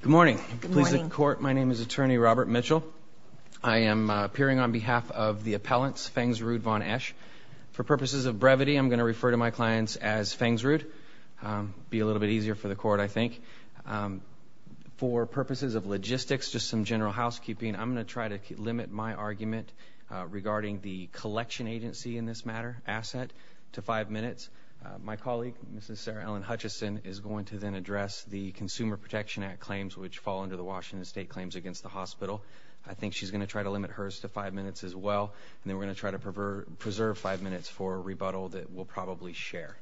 Good morning. Please sit in court. My name is Attorney Robert Mitchell. I am appearing on behalf of the appellants, Fangsrud Von Esch. For purposes of brevity, I'm going to refer to my clients as Fangsrud. It will be a little bit easier for the court, I think. For purposes of logistics, just some general housekeeping, I'm going to try to limit my argument regarding the collection agency in this matter, asset, to five minutes. My colleague, Mrs. Sarah Ellen Hutchison, is going to then address the Consumer Protection Act claims which fall under the Washington State claims against the hospital. I think she's going to try to limit hers to five minutes as well, and then we're going to try to preserve five minutes for a rebuttal that we'll probably share.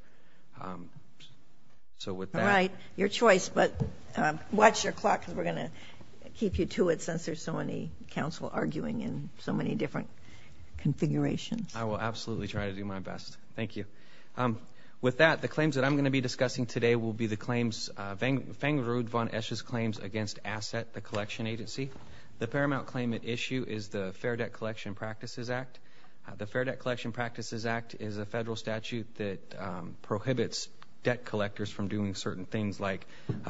So with that – All right. Your choice, but watch your clock because we're going to keep you to it since there's so many counsel arguing in so many different configurations. I will absolutely try to do my best. Thank you. With that, the claims that I'm going to be discussing today will be the claims, Fangsrud Von Esch's claims against asset, the collection agency. The paramount claim at issue is the Fair Debt Collection Practices Act. The Fair Debt Collection Practices Act is a federal statute that prohibits debt collectors from doing certain things like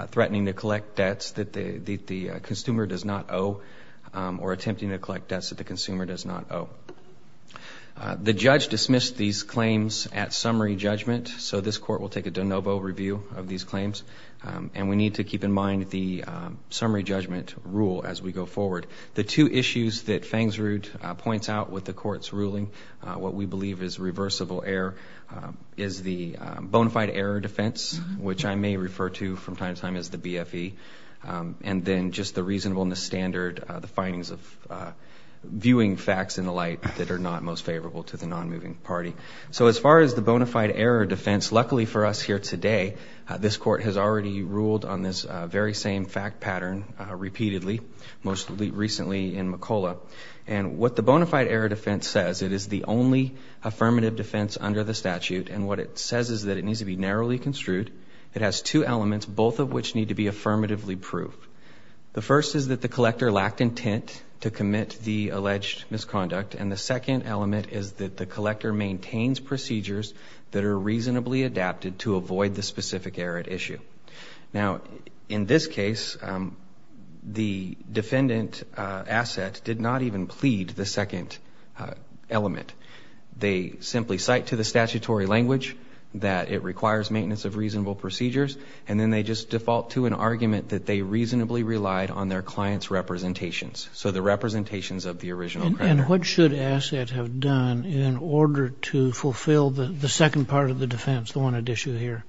threatening to collect debts that the consumer does not owe or attempting to collect debts that the consumer does not owe. The judge dismissed these claims at summary judgment, so this court will take a de novo review of these claims, and we need to keep in mind the summary judgment rule as we go forward. The two issues that Fangsrud points out with the court's ruling, what we believe is reversible error, is the bona fide error defense, which I may refer to from time to time as the BFE, and then just the reasonableness standard, the findings of viewing facts in the light that are not most favorable to the non-moving party. As far as the bona fide error defense, luckily for us here today, this court has already ruled on this very same fact pattern repeatedly, most recently in McCulloch. What the bona fide error defense says, it is the only affirmative defense under the statute, and what it says is that it needs to be narrowly construed. It has two elements, both of which need to be affirmatively proved. The first is that the collector lacked intent to commit the alleged misconduct, and the second element is that the collector maintains procedures that are reasonably adapted to avoid the specific error at issue. Now, in this case, the defendant asset did not even plead the second element. They simply cite to the statutory language that it requires maintenance of reasonable procedures, and then they just default to an argument that they reasonably relied on their client's representations, so the representations of the original creditor. And what should asset have done in order to fulfill the second part of the defense, the one at issue here?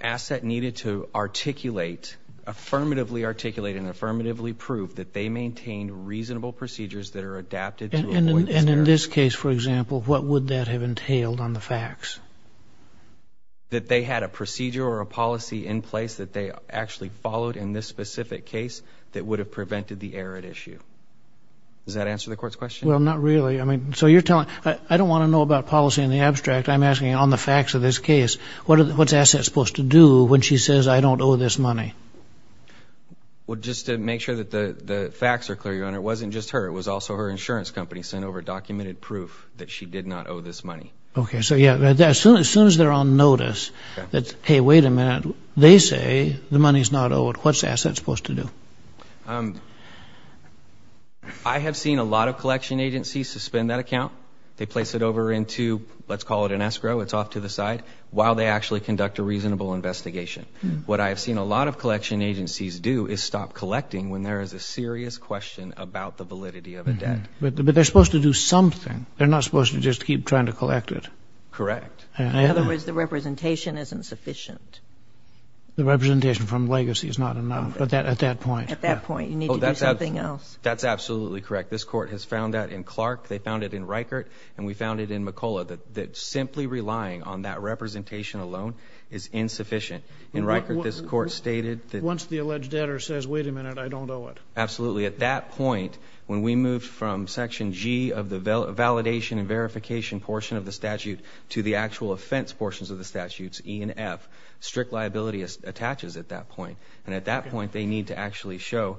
Asset needed to articulate, affirmatively articulate and affirmatively prove that they maintained reasonable procedures that are adapted to avoid this error. And in this case, for example, what would that have entailed on the facts? That they had a procedure or a policy in place that they actually followed in this specific case that would have prevented the error at issue. Does that answer the court's question? Well, not really. I mean, so you're telling, I don't want to know about policy in the abstract. I'm asking on the facts of this case. What's asset supposed to do when she says, I don't owe this money? Well, just to make sure that the facts are clear, Your Honor, it wasn't just her. It was also her insurance company sent over documented proof that she did not owe this money. Okay. So, yeah, as soon as they're on notice that, hey, wait a minute, they say the money's not owed, what's asset supposed to do? I have seen a lot of collection agencies suspend that account. They place it over into, let's call it an escrow, it's off to the side, while they actually conduct a reasonable investigation. What I have seen a lot of collection agencies do is stop collecting when there is a serious question about the validity of a debt. But they're supposed to do something. They're not supposed to just keep trying to collect it. Correct. In other words, the representation isn't sufficient. The representation from legacy is not enough at that point. At that point, you need to do something else. That's absolutely correct. This Court has found that in Clark. They found it in Reichert, and we found it in McCullough, that simply relying on that representation alone is insufficient. In Reichert, this Court stated that— Once the alleged debtor says, wait a minute, I don't owe it. Absolutely. At that point, when we move from Section G of the validation and verification portion of the statute to the actual offense portions of the statutes, E and F, strict liability attaches at that point. At that point, they need to actually show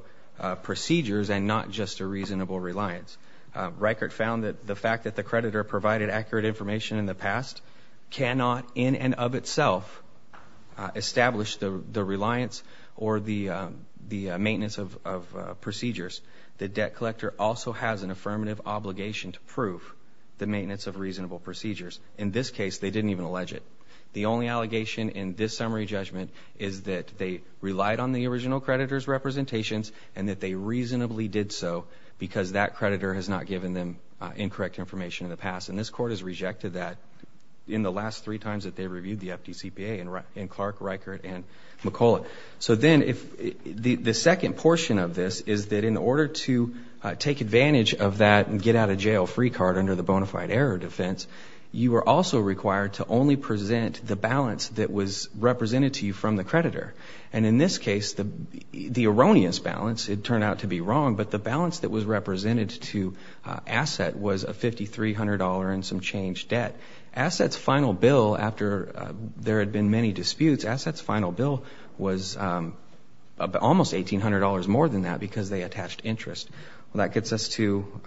procedures and not just a reasonable reliance. Reichert found that the fact that the creditor provided accurate information in the past cannot in and of itself establish the reliance or the maintenance of procedures. The debt collector also has an affirmative obligation to prove the maintenance of reasonable procedures. In this case, they didn't even allege it. The only allegation in this summary judgment is that they relied on the original creditor's representations and that they reasonably did so because that creditor has not given them incorrect information in the past. This Court has rejected that in the last three times that they reviewed the FDCPA in Clark, Reichert, and McCullough. The second portion of this is that in order to take advantage of that and get out of jail free card under the bona fide error defense, you are also required to only present the balance that was represented to you from the creditor. In this case, the erroneous balance, it turned out to be wrong, but the balance that was represented to Asset was a $5,300 and some change debt. Asset's final bill, after there had been many disputes, Asset's final bill was almost $1,800 more than that because they attached interest. That gets us to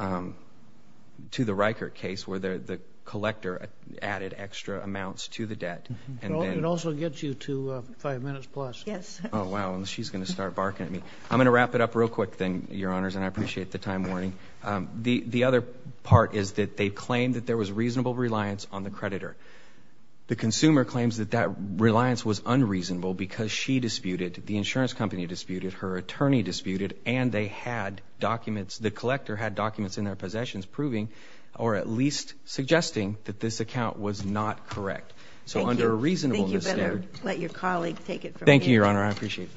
the Reichert case where the collector added extra amounts to the debt. It also gets you to five minutes plus. Oh, wow, and she's going to start barking at me. I'm going to wrap it up real quick, Your Honors, and I appreciate the time warning. The other part is that they claimed that there was reasonable reliance on the creditor. The consumer claims that that reliance was unreasonable because she disputed, the insurance company disputed, her attorney disputed, and they had documents, the collector had documents in their possessions proving or at least suggesting that this account was not correct. So under a reasonableness standard... Thank you. You better let your colleague take it from here. Thank you, Your Honor. I appreciate it.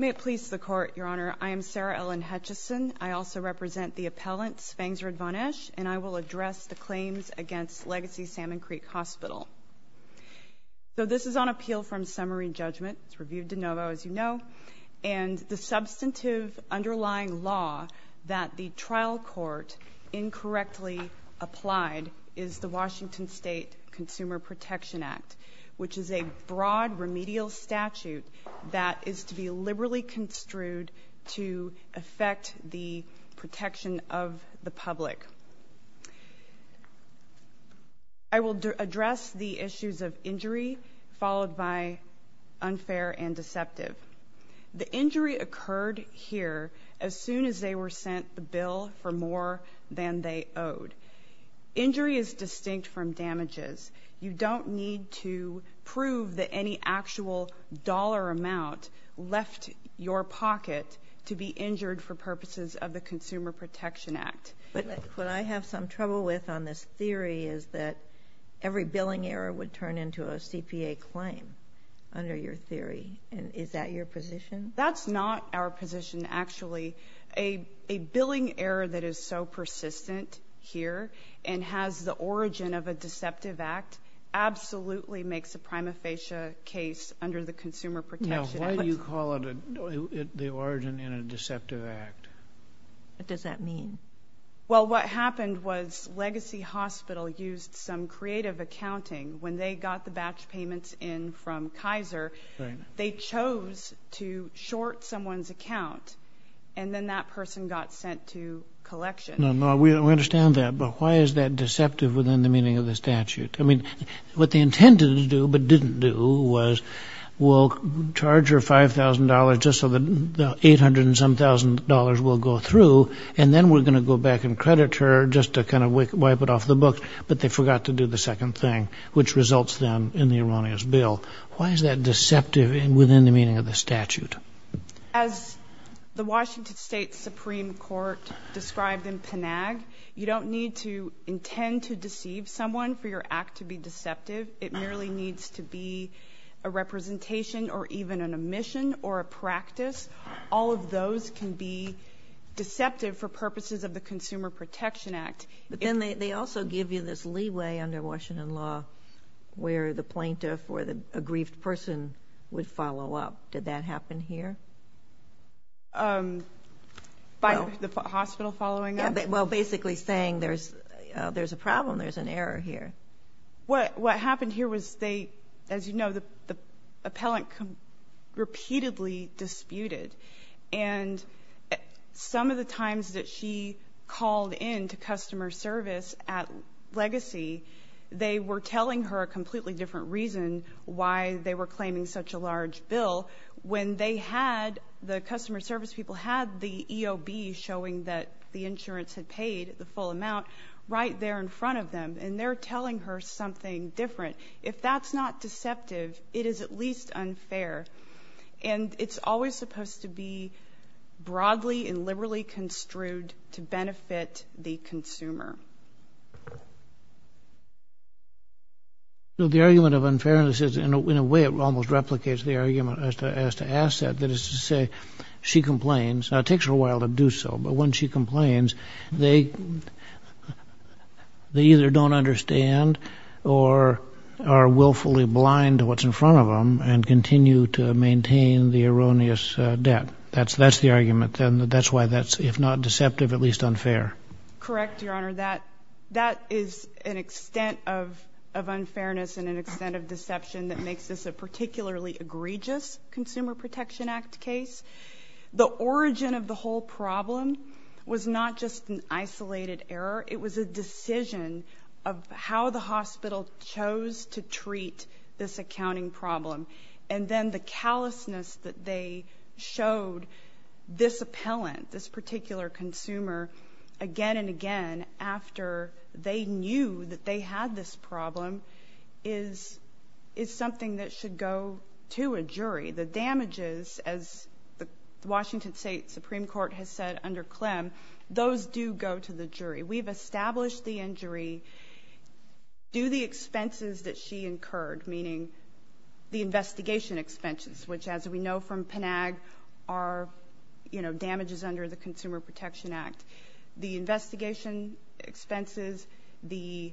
May it please the Court, Your Honor, I am Sarah Ellen Hutchison. I also represent the appellants, Fangsred von Esch, and I will address the claims against Legacy Salmon Creek Hospital. So this is on appeal from summary judgment. It's reviewed de novo, as you know. And the substantive underlying law that the trial court incorrectly applied is the Washington State Consumer Protection Act, which is a broad remedial statute that is to be liberally construed to affect the protection of the public. I will address the issues of injury, followed by unfair and deceptive. The injury occurred here as soon as they were sent the bill for more than they owed. Injury is distinct from damages. You don't need to prove that any actual dollar amount left your pocket to be injured for purposes of the Consumer Protection Act. But what I have some trouble with on this theory is that every billing error would turn into a CPA claim under your theory. Is that your position? That's not our position, actually. A billing error that is so persistent here and has the origin of a deceptive act absolutely makes a prima facie case under the Consumer Protection Act. Now, why do you call it the origin in a deceptive act? What does that mean? Well, what happened was Legacy Hospital used some creative accounting. When they got the batch payments in from Kaiser, they chose to short someone's account, and then that person got sent to collections. No, no, we understand that. But why is that deceptive within the meaning of the statute? I mean, what they intended to do, but didn't do, was we'll charge her $5,000 just so that the $800-and-some-thousand will go through, and then we're going to go back and credit her just to kind of wipe it off the book. But they forgot to do the second thing, which results then in the erroneous bill. Why is that deceptive within the meaning of the statute? As the Washington State Supreme Court described in Panag, you don't need to intend to deceive someone for your act to be deceptive. It merely needs to be a representation or even an omission or a practice. All of those can be deceptive for purposes of the Consumer Protection Act. But then they also give you this leeway under Washington law where the plaintiff or a grieved person would follow up. Did that happen here? By the hospital following up? Well, basically saying there's a problem, there's an error here. What happened here was, as you know, the appellant repeatedly disputed. And some of the times that she called in to customer service at Legacy, they were telling her a completely different reason why they were claiming such a large bill when the customer service people had the EOB showing that the insurance had paid the full amount right there in front of them. And they're telling her something different. If that's not deceptive, it is at least unfair. And it's always supposed to be broadly and liberally construed to benefit the consumer. The argument of unfairness is, in a way, it almost replicates the argument as to asset. That is to say, she complains. Now, it takes her a while to do so. But when she complains, they either don't understand or are willfully blind to what's in front of them and continue to maintain the erroneous debt. That's the argument, then. That's why that's, if not deceptive, at least unfair. Correct, Your Honor. That is an extent of unfairness and an extent of deception that makes this a particularly egregious Consumer Protection Act case. The origin of the whole problem was not just an isolated error. It was a decision of how the hospital chose to treat this accounting problem. And then the callousness that they showed this appellant, this particular consumer, again and again, after they knew that they had this problem, is something that should go to a jury. The damages, as the Washington State Supreme Court has said under Clem, those do go to the jury. We've established the injury due to the expenses that she incurred, meaning the investigation expenses, which, as we know from PNAG, are damages under the Consumer Protection Act. The investigation expenses, the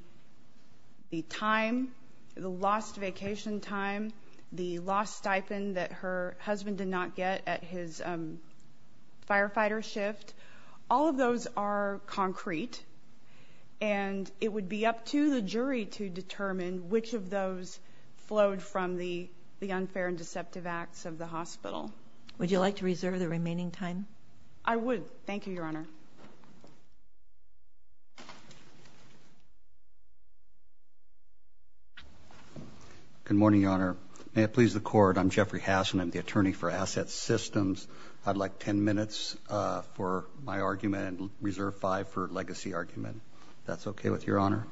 time, the lost vacation time, the lost stipend that her husband did not get at his firefighter shift, all of those are concrete, and it would be up to the jury to determine which of those flowed from the unfair and deceptive acts of the hospital. Would you like to reserve the remaining time? I would. Thank you, Your Honor. Good morning, Your Honor. May it please the Court, I'm Jeffrey Hassan. I'm the attorney for Asset Systems. I'd like 10 minutes for my argument and reserve five for legacy argument, if that's okay with Your Honor.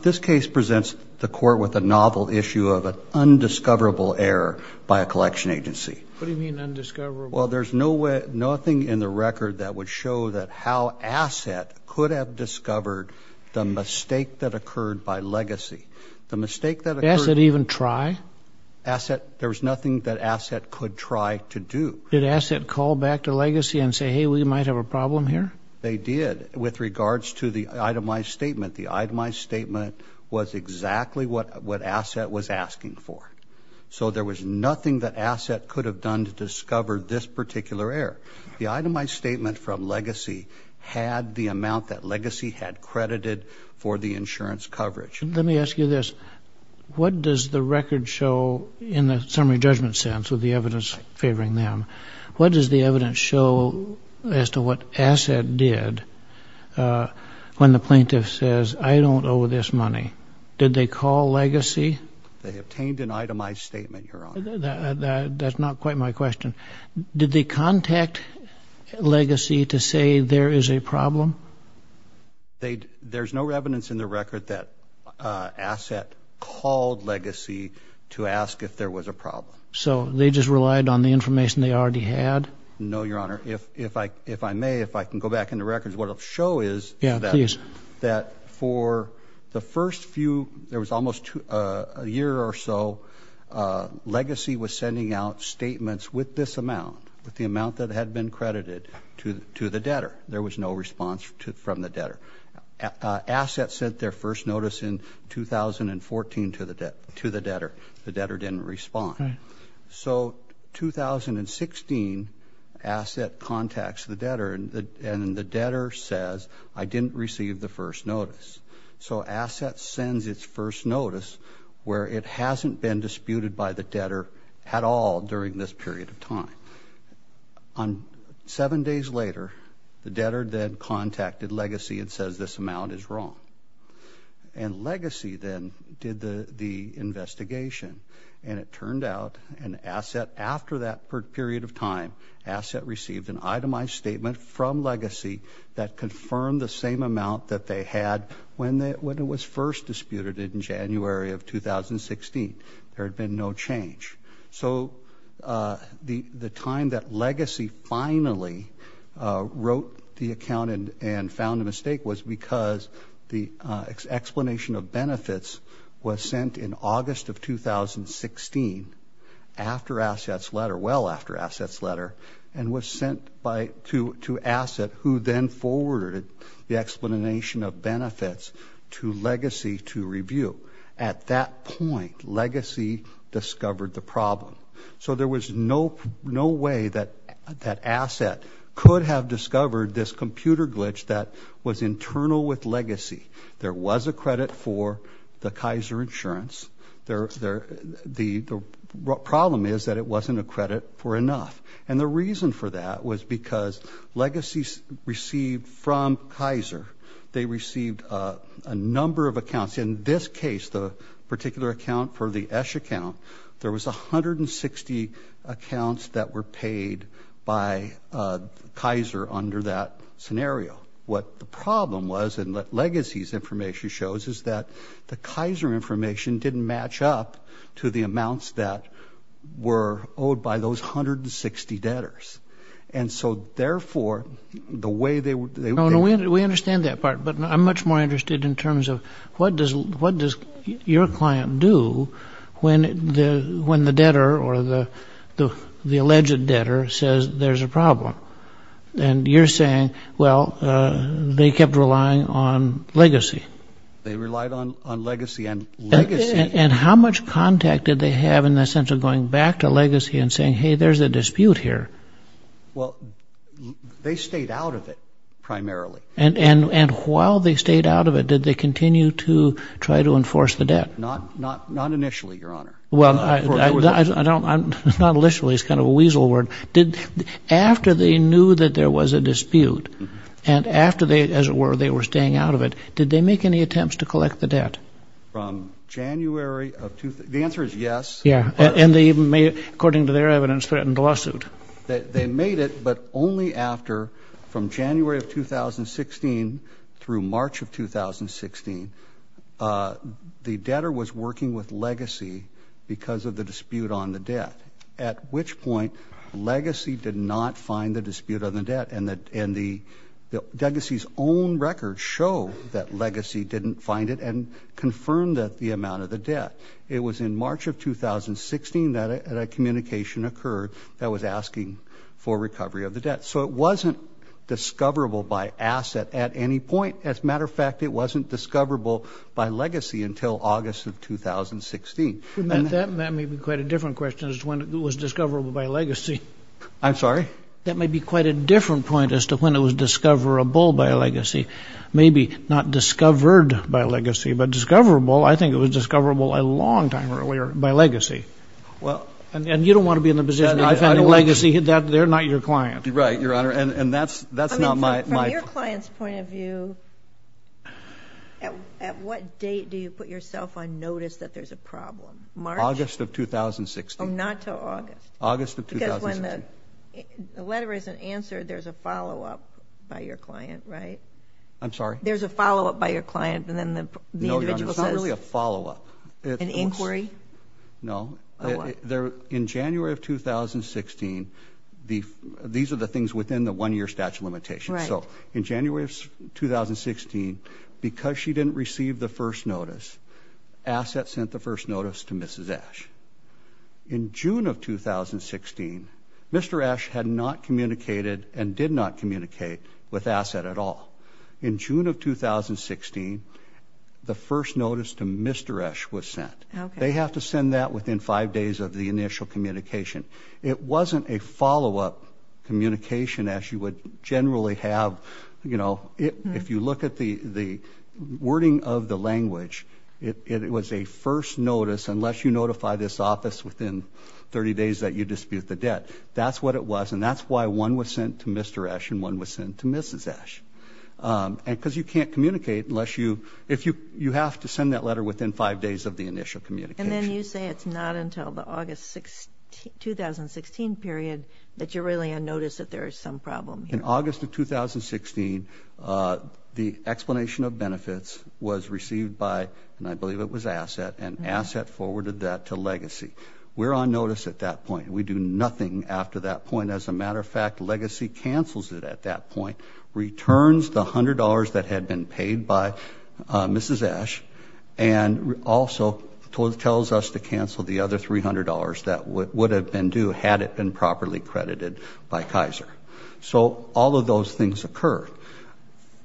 This case presents the Court with a novel issue of an undiscoverable error by a collection agency. What do you mean, undiscoverable? Well, there's nothing in the record that would show how Asset could have discovered the mistake that occurred by Legacy. The mistake that occurred... Did Asset even try? There was nothing that Asset could try to do. Did Asset call back to Legacy and say, hey, we might have a problem here? They did. With regards to the itemized statement, the itemized statement was exactly what Asset was asking for. So there was nothing that Asset could have done to discover this particular error. The itemized statement from Legacy had the amount that Legacy had credited for the insurance coverage. Let me ask you this. What does the record show in the summary judgment sense with the evidence favoring them? What does the evidence show as to what Asset did when the plaintiff says, I don't owe this money? Did they call Legacy? They obtained an itemized statement, Your Honor. That's not quite my question. Did they contact Legacy to say there is a problem? There's no evidence in the record that Asset called Legacy to ask if there was a problem. So they just relied on the information they already had? No, Your Honor. If I may, if I can go back in the records, what it will show is that for the first few, there was almost a year or so, Legacy was sending out statements with this amount, with the amount that had been credited to the debtor. There was no response from the debtor. Asset sent their first notice in 2014 to the debtor. The debtor didn't respond. So 2016, Asset contacts the debtor, and the debtor says, I didn't receive the first notice. So Asset sends its first notice where it hasn't been disputed by the debtor at all during this period of time. Seven days later, the debtor then contacted Legacy and says this amount is wrong. And Legacy then did the investigation, and it turned out, and Asset, after that period of time, Asset received an itemized statement from Legacy that confirmed the same amount that they had when it was first disputed in January of 2016. There had been no change. So the time that Legacy finally wrote the account and found a mistake was because the explanation of benefits was sent in August of 2016 after Asset's letter, well after Asset's letter, and was sent to Asset, who then forwarded the explanation of benefits to Legacy to review. At that point, Legacy discovered the problem. So there was no way that Asset could have discovered this computer glitch that was internal with Legacy. There was a credit for the Kaiser insurance. The problem is that it wasn't a credit for enough. And the reason for that was because Legacy received from Kaiser, they received a number of accounts. In this case, the particular account for the Esch account, there was 160 accounts that were paid by Kaiser under that scenario. What the problem was, and what Legacy's information shows, is that the Kaiser information didn't match up to the amounts that were owed by those 160 debtors. And so, therefore, the way they were... We understand that part, but I'm much more interested in terms of what does your client do when the debtor or the alleged debtor says there's a problem? And you're saying, well, they kept relying on Legacy. They relied on Legacy, and Legacy... And how much contact did they have in the sense of going back to Legacy and saying, hey, there's a dispute here? Well, they stayed out of it, primarily. And while they stayed out of it, did they continue to try to enforce the debt? Not initially, Your Honor. Well, not initially is kind of a weasel word. After they knew that there was a dispute, and after, as it were, they were staying out of it, did they make any attempts to collect the debt? From January of... The answer is yes. Yeah. And they even made, according to their evidence, threatened a lawsuit. They made it, but only after, from January of 2016 through March of 2016, the debtor was working with Legacy because of the dispute on the debt, at which point Legacy did not find the dispute on the debt. And Legacy's own records show that Legacy didn't find it and confirmed the amount of the debt. It was in March of 2016 that a communication occurred that was asking for recovery of the debt. So it wasn't discoverable by asset at any point. As a matter of fact, it wasn't discoverable by Legacy until August of 2016. That may be quite a different question as to when it was discoverable by Legacy. I'm sorry? That may be quite a different point as to when it was discoverable by Legacy. Maybe not discovered by Legacy, but discoverable. I think it was discoverable a long time earlier by Legacy. And you don't want to be in the position that if any Legacy hit that, they're not your client. Right, Your Honor, and that's not my... From your client's point of view, at what date do you put yourself on notice that there's a problem? August of 2016. Oh, not till August. August of 2016. Because when the letter isn't answered, there's a follow-up by your client, right? I'm sorry? There's a follow-up by your client, and then the individual says... No, Your Honor, it's not really a follow-up. An inquiry? No. In January of 2016, these are the things within the one-year statute of limitations. Right. So in January of 2016, because she didn't receive the first notice, Asset sent the first notice to Mrs. Esch. In June of 2016, Mr. Esch had not communicated and did not communicate with Asset at all. In June of 2016, the first notice to Mr. Esch was sent. Okay. They have to send that within five days of the initial communication. It wasn't a follow-up communication as you would generally have. If you look at the wording of the language, it was a first notice, unless you notify this office within 30 days that you dispute the debt. That's what it was, and that's why one was sent to Mr. Esch and one was sent to Mrs. Esch. Because you can't communicate unless you have to send that letter within five days of the initial communication. And then you say it's not until the August 2016 period that you're really on notice that there is some problem here. In August of 2016, the explanation of benefits was received by, and I believe it was Asset, and Asset forwarded that to Legacy. We're on notice at that point. We do nothing after that point. As a matter of fact, Legacy cancels it at that point, returns the $100 that had been paid by Mrs. Esch, and also tells us to cancel the other $300 that would have been due had it been properly credited by Kaiser. So all of those things occur.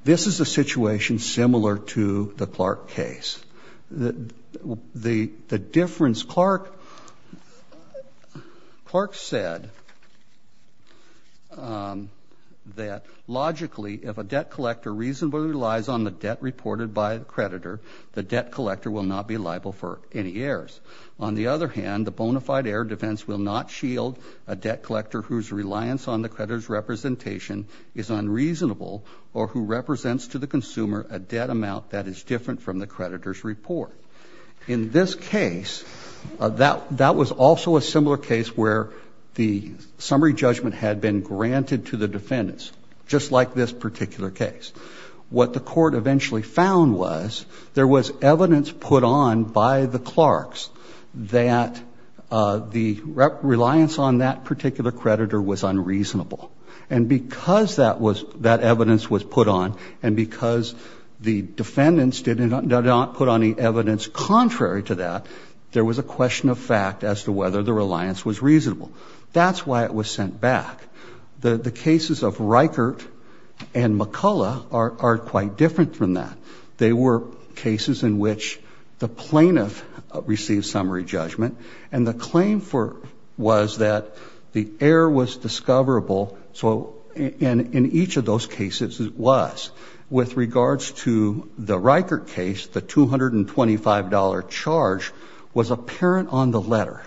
This is a situation similar to the Clark case. The difference, Clark said that, logically, if a debt collector reasonably relies on the debt reported by a creditor, the debt collector will not be liable for any errors. On the other hand, the bona fide error defense will not shield a debt collector whose reliance on the creditor's representation is unreasonable or who represents to the consumer a debt amount that is different from the creditor's report. In this case, that was also a similar case where the summary judgment had been granted to the defendants, just like this particular case. What the court eventually found was there was evidence put on by the Clarks that the reliance on that particular creditor was unreasonable. And because that evidence was put on and because the defendants did not put on any evidence contrary to that, there was a question of fact as to whether the reliance was reasonable. That's why it was sent back. The cases of Reichert and McCullough are quite different from that. They were cases in which the plaintiff received summary judgment and the claim was that the error was discoverable, and in each of those cases it was. With regards to the Reichert case, the $225 charge was apparent on the letter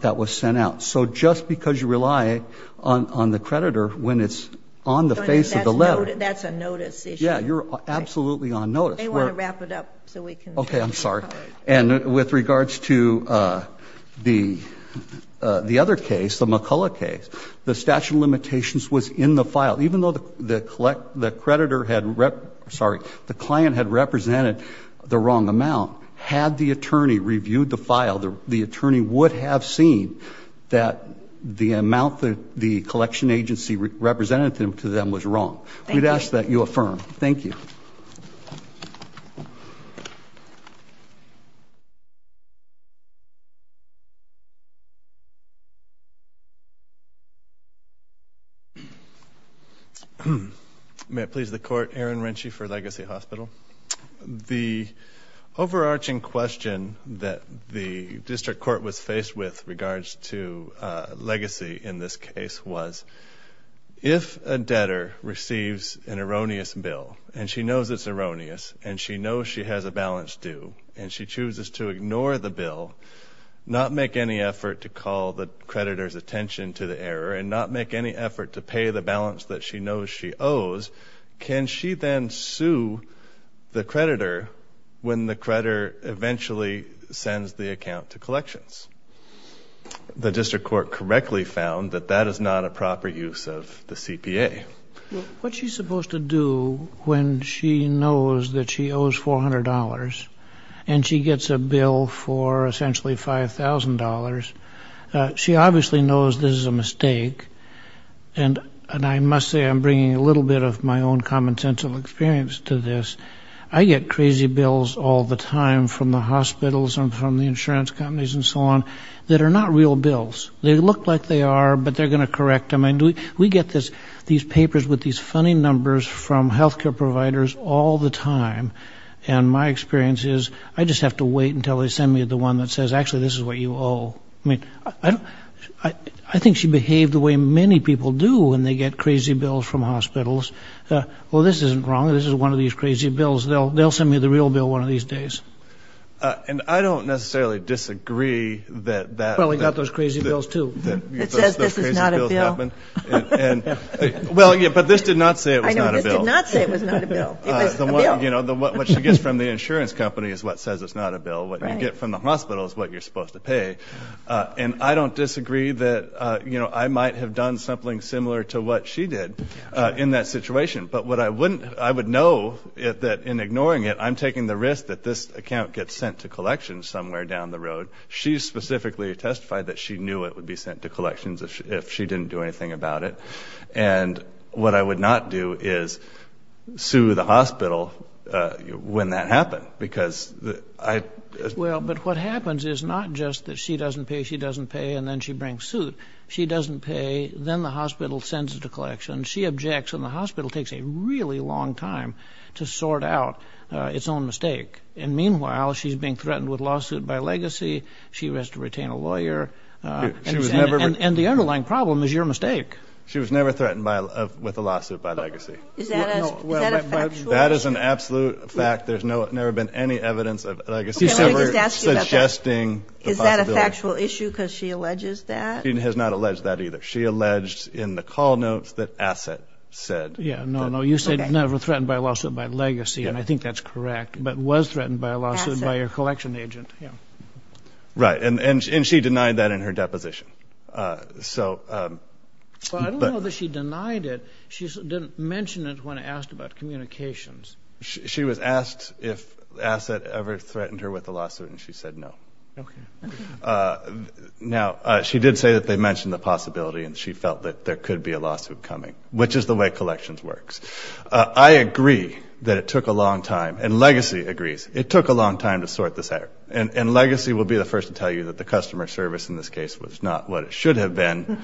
that was sent out. So just because you rely on the creditor when it's on the face of the letter... That's a notice issue. Yeah, you're absolutely on notice. They want to wrap it up so we can... Okay, I'm sorry. And with regards to the other case, the McCullough case, the statute of limitations was in the file. Even though the client had represented the wrong amount, had the attorney reviewed the file, the attorney would have seen that the amount that the collection agency represented to them was wrong. We'd ask that you affirm. Thank you. May it please the Court. Aaron Rinchey for Legacy Hospital. The overarching question that the district court was faced with with regards to Legacy in this case was, if a debtor receives an erroneous bill and she knows it's erroneous and she knows she has a balance due and she chooses to ignore the bill, not make any effort to call the creditor's attention to the error and not make any effort to pay the balance that she knows she owes, can she then sue the creditor when the creditor eventually sends the account to collections? The district court correctly found that that is not a proper use of the CPA. What she's supposed to do when she knows that she owes $400 and she gets a bill for essentially $5,000, she obviously knows this is a mistake. And I must say I'm bringing a little bit of my own commonsensical experience to this. I get crazy bills all the time from the hospitals and from the insurance companies and so on that are not real bills. They look like they are, but they're going to correct them. We get these papers with these funny numbers from health care providers all the time, and my experience is I just have to wait until they send me the one that says, actually, this is what you owe. I think she behaved the way many people do when they get crazy bills from hospitals. Well, this isn't wrong. This is one of these crazy bills. They'll send me the real bill one of these days. And I don't necessarily disagree that that – Well, we got those crazy bills too. It says this is not a bill. Well, yeah, but this did not say it was not a bill. I know, this did not say it was not a bill. It was a bill. What she gets from the insurance company is what says it's not a bill. What you get from the hospital is what you're supposed to pay. And I don't disagree that I might have done something similar to what she did in that situation. But what I wouldn't – I would know that in ignoring it, I'm taking the risk that this account gets sent to collections somewhere down the road. She specifically testified that she knew it would be sent to collections if she didn't do anything about it. And what I would not do is sue the hospital when that happened because I – Well, but what happens is not just that she doesn't pay, she doesn't pay, and then she brings suit. She doesn't pay. Then the hospital sends it to collections. She objects, and the hospital takes a really long time to sort out its own mistake. And meanwhile, she's being threatened with lawsuit by legacy. She has to retain a lawyer. And the underlying problem is your mistake. She was never threatened with a lawsuit by legacy. Is that a fact? That is an absolute fact. There's never been any evidence of legacy ever suggesting the possibility. Okay, let me just ask you about that. Is that a factual issue because she alleges that? She has not alleged that either. She alleged in the call notes that asset said. Yeah, no, no. You said never threatened by a lawsuit by legacy, and I think that's correct, but was threatened by a lawsuit by a collection agent, yeah. Right, and she denied that in her deposition. So – Well, I don't know that she denied it. She didn't mention it when asked about communications. She was asked if asset ever threatened her with a lawsuit, and she said no. Okay. Now, she did say that they mentioned the possibility, and she felt that there could be a lawsuit coming, which is the way collections works. I agree that it took a long time, and legacy agrees, it took a long time to sort this out. And legacy will be the first to tell you that the customer service in this case was not what it should have been,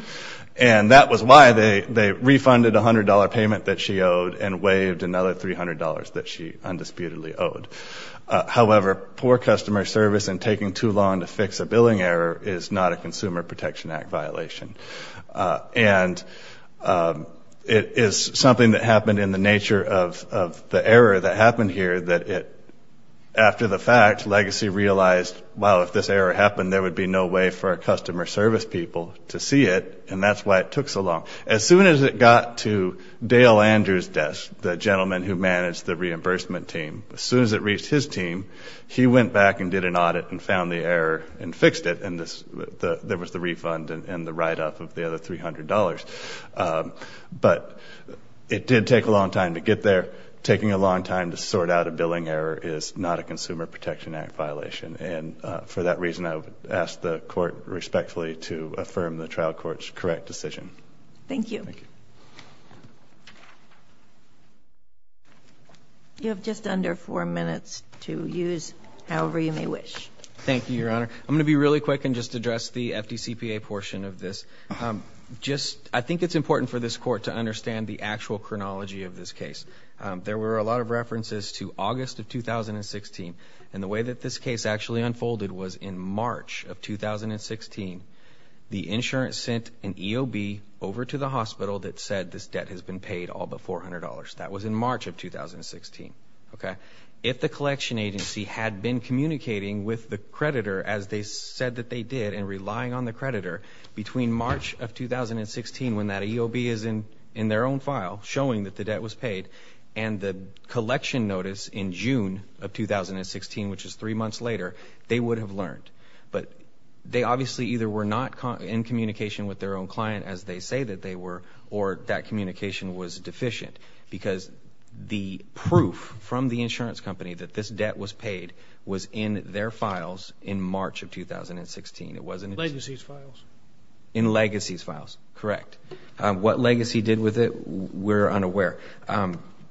and that was why they refunded a $100 payment that she owed and waived another $300 that she undisputedly owed. However, poor customer service and taking too long to fix a billing error is not a Consumer Protection Act violation. And it is something that happened in the nature of the error that happened here, that after the fact, legacy realized, wow, if this error happened, there would be no way for our customer service people to see it, and that's why it took so long. As soon as it got to Dale Andrews' desk, the gentleman who managed the reimbursement team, as soon as it reached his team, he went back and did an audit and found the error and fixed it, and there was the refund and the write-up of the other $300. But it did take a long time to get there. Taking a long time to sort out a billing error is not a Consumer Protection Act violation, and for that reason I would ask the Court respectfully to affirm the trial court's correct decision. Thank you. You have just under four minutes to use however you may wish. Thank you, Your Honor. I'm going to be really quick and just address the FDCPA portion of this. I think it's important for this Court to understand the actual chronology of this case. There were a lot of references to August of 2016, and the way that this case actually unfolded was in March of 2016, the insurance sent an EOB over to the hospital that said this debt has been paid all but $400. That was in March of 2016. If the collection agency had been communicating with the creditor as they said that they did and relying on the creditor between March of 2016 when that EOB is in their own file showing that the debt was paid and the collection notice in June of 2016, which is three months later, they would have learned. But they obviously either were not in communication with their own client as they say that they were or that communication was deficient because the proof from the insurance company that this debt was paid was in their files in March of 2016. It wasn't in the legacy's files. In the legacy's files, correct. What legacy did with it, we're unaware.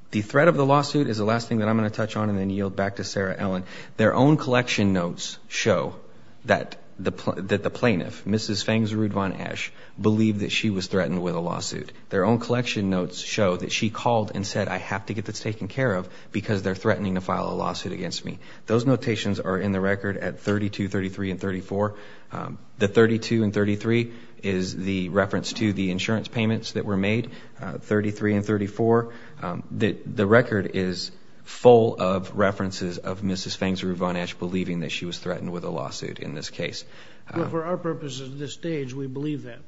The threat of the lawsuit is the last thing that I'm going to touch on and then yield back to Sarah Ellen. Their own collection notes show that the plaintiff, Mrs. Fangs-Rudvon Ash, believed that she was threatened with a lawsuit. Their own collection notes show that she called and said, I have to get this taken care of because they're threatening to file a lawsuit against me. Those notations are in the record at 32, 33, and 34. The 32 and 33 is the reference to the insurance payments that were made, 33 and 34. The record is full of references of Mrs. Fangs-Rudvon Ash believing that she was threatened with a lawsuit in this case. For our purposes at this stage, we believe that.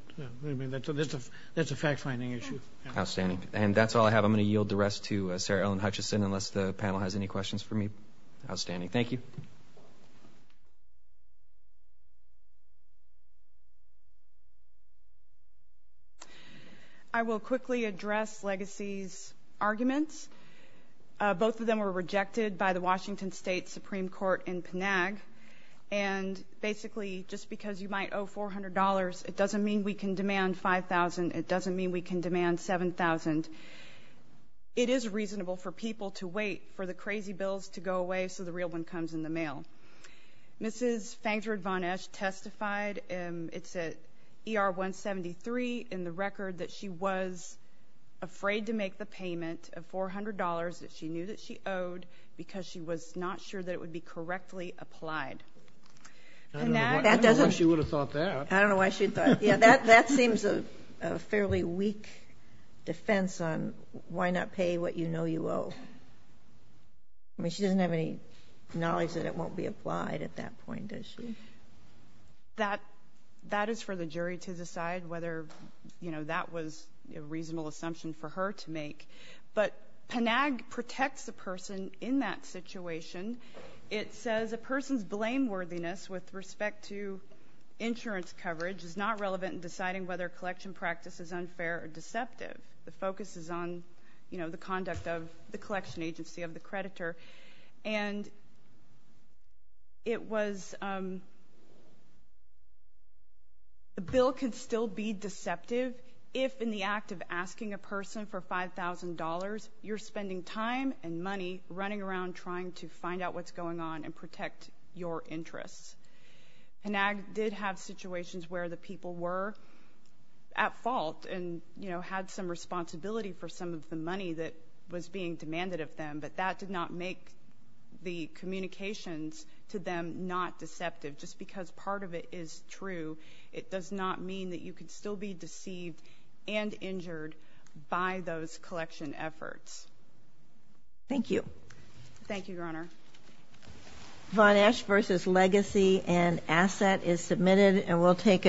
That's a fact-finding issue. Outstanding. And that's all I have. I'm going to yield the rest to Sarah Ellen Hutchison unless the panel has any questions for me. Outstanding. Thank you. Thank you. I will quickly address Legacy's arguments. Both of them were rejected by the Washington State Supreme Court in Panag. And basically, just because you might owe $400, it doesn't mean we can demand $5,000. It doesn't mean we can demand $7,000. It is reasonable for people to wait for the crazy bills to go away so the real one comes in the mail. Mrs. Fangs-Rudvon Ash testified. It's at ER 173 in the record that she was afraid to make the payment of $400 that she knew that she owed because she was not sure that it would be correctly applied. I don't know why she would have thought that. I don't know why she would have thought that. That seems a fairly weak defense on why not pay what you know you owe. I mean, she doesn't have any knowledge that it won't be applied at that point, does she? That is for the jury to decide whether, you know, that was a reasonable assumption for her to make. But Panag protects the person in that situation. It says a person's blameworthiness with respect to insurance coverage is not relevant in deciding whether collection practice is unfair or deceptive. The focus is on, you know, the conduct of the collection agency, of the creditor. And it was the bill can still be deceptive if, in the act of asking a person for $5,000, you're spending time and money running around trying to find out what's going on and protect your interests. Panag did have situations where the people were at fault and, you know, had some responsibility for some of the money that was being demanded of them, but that did not make the communications to them not deceptive. Just because part of it is true, it does not mean that you can still be deceived and injured by those collection efforts. Thank you. Thank you, Your Honor. Von Esch versus Legacy and Asset is submitted, and we'll take a short break.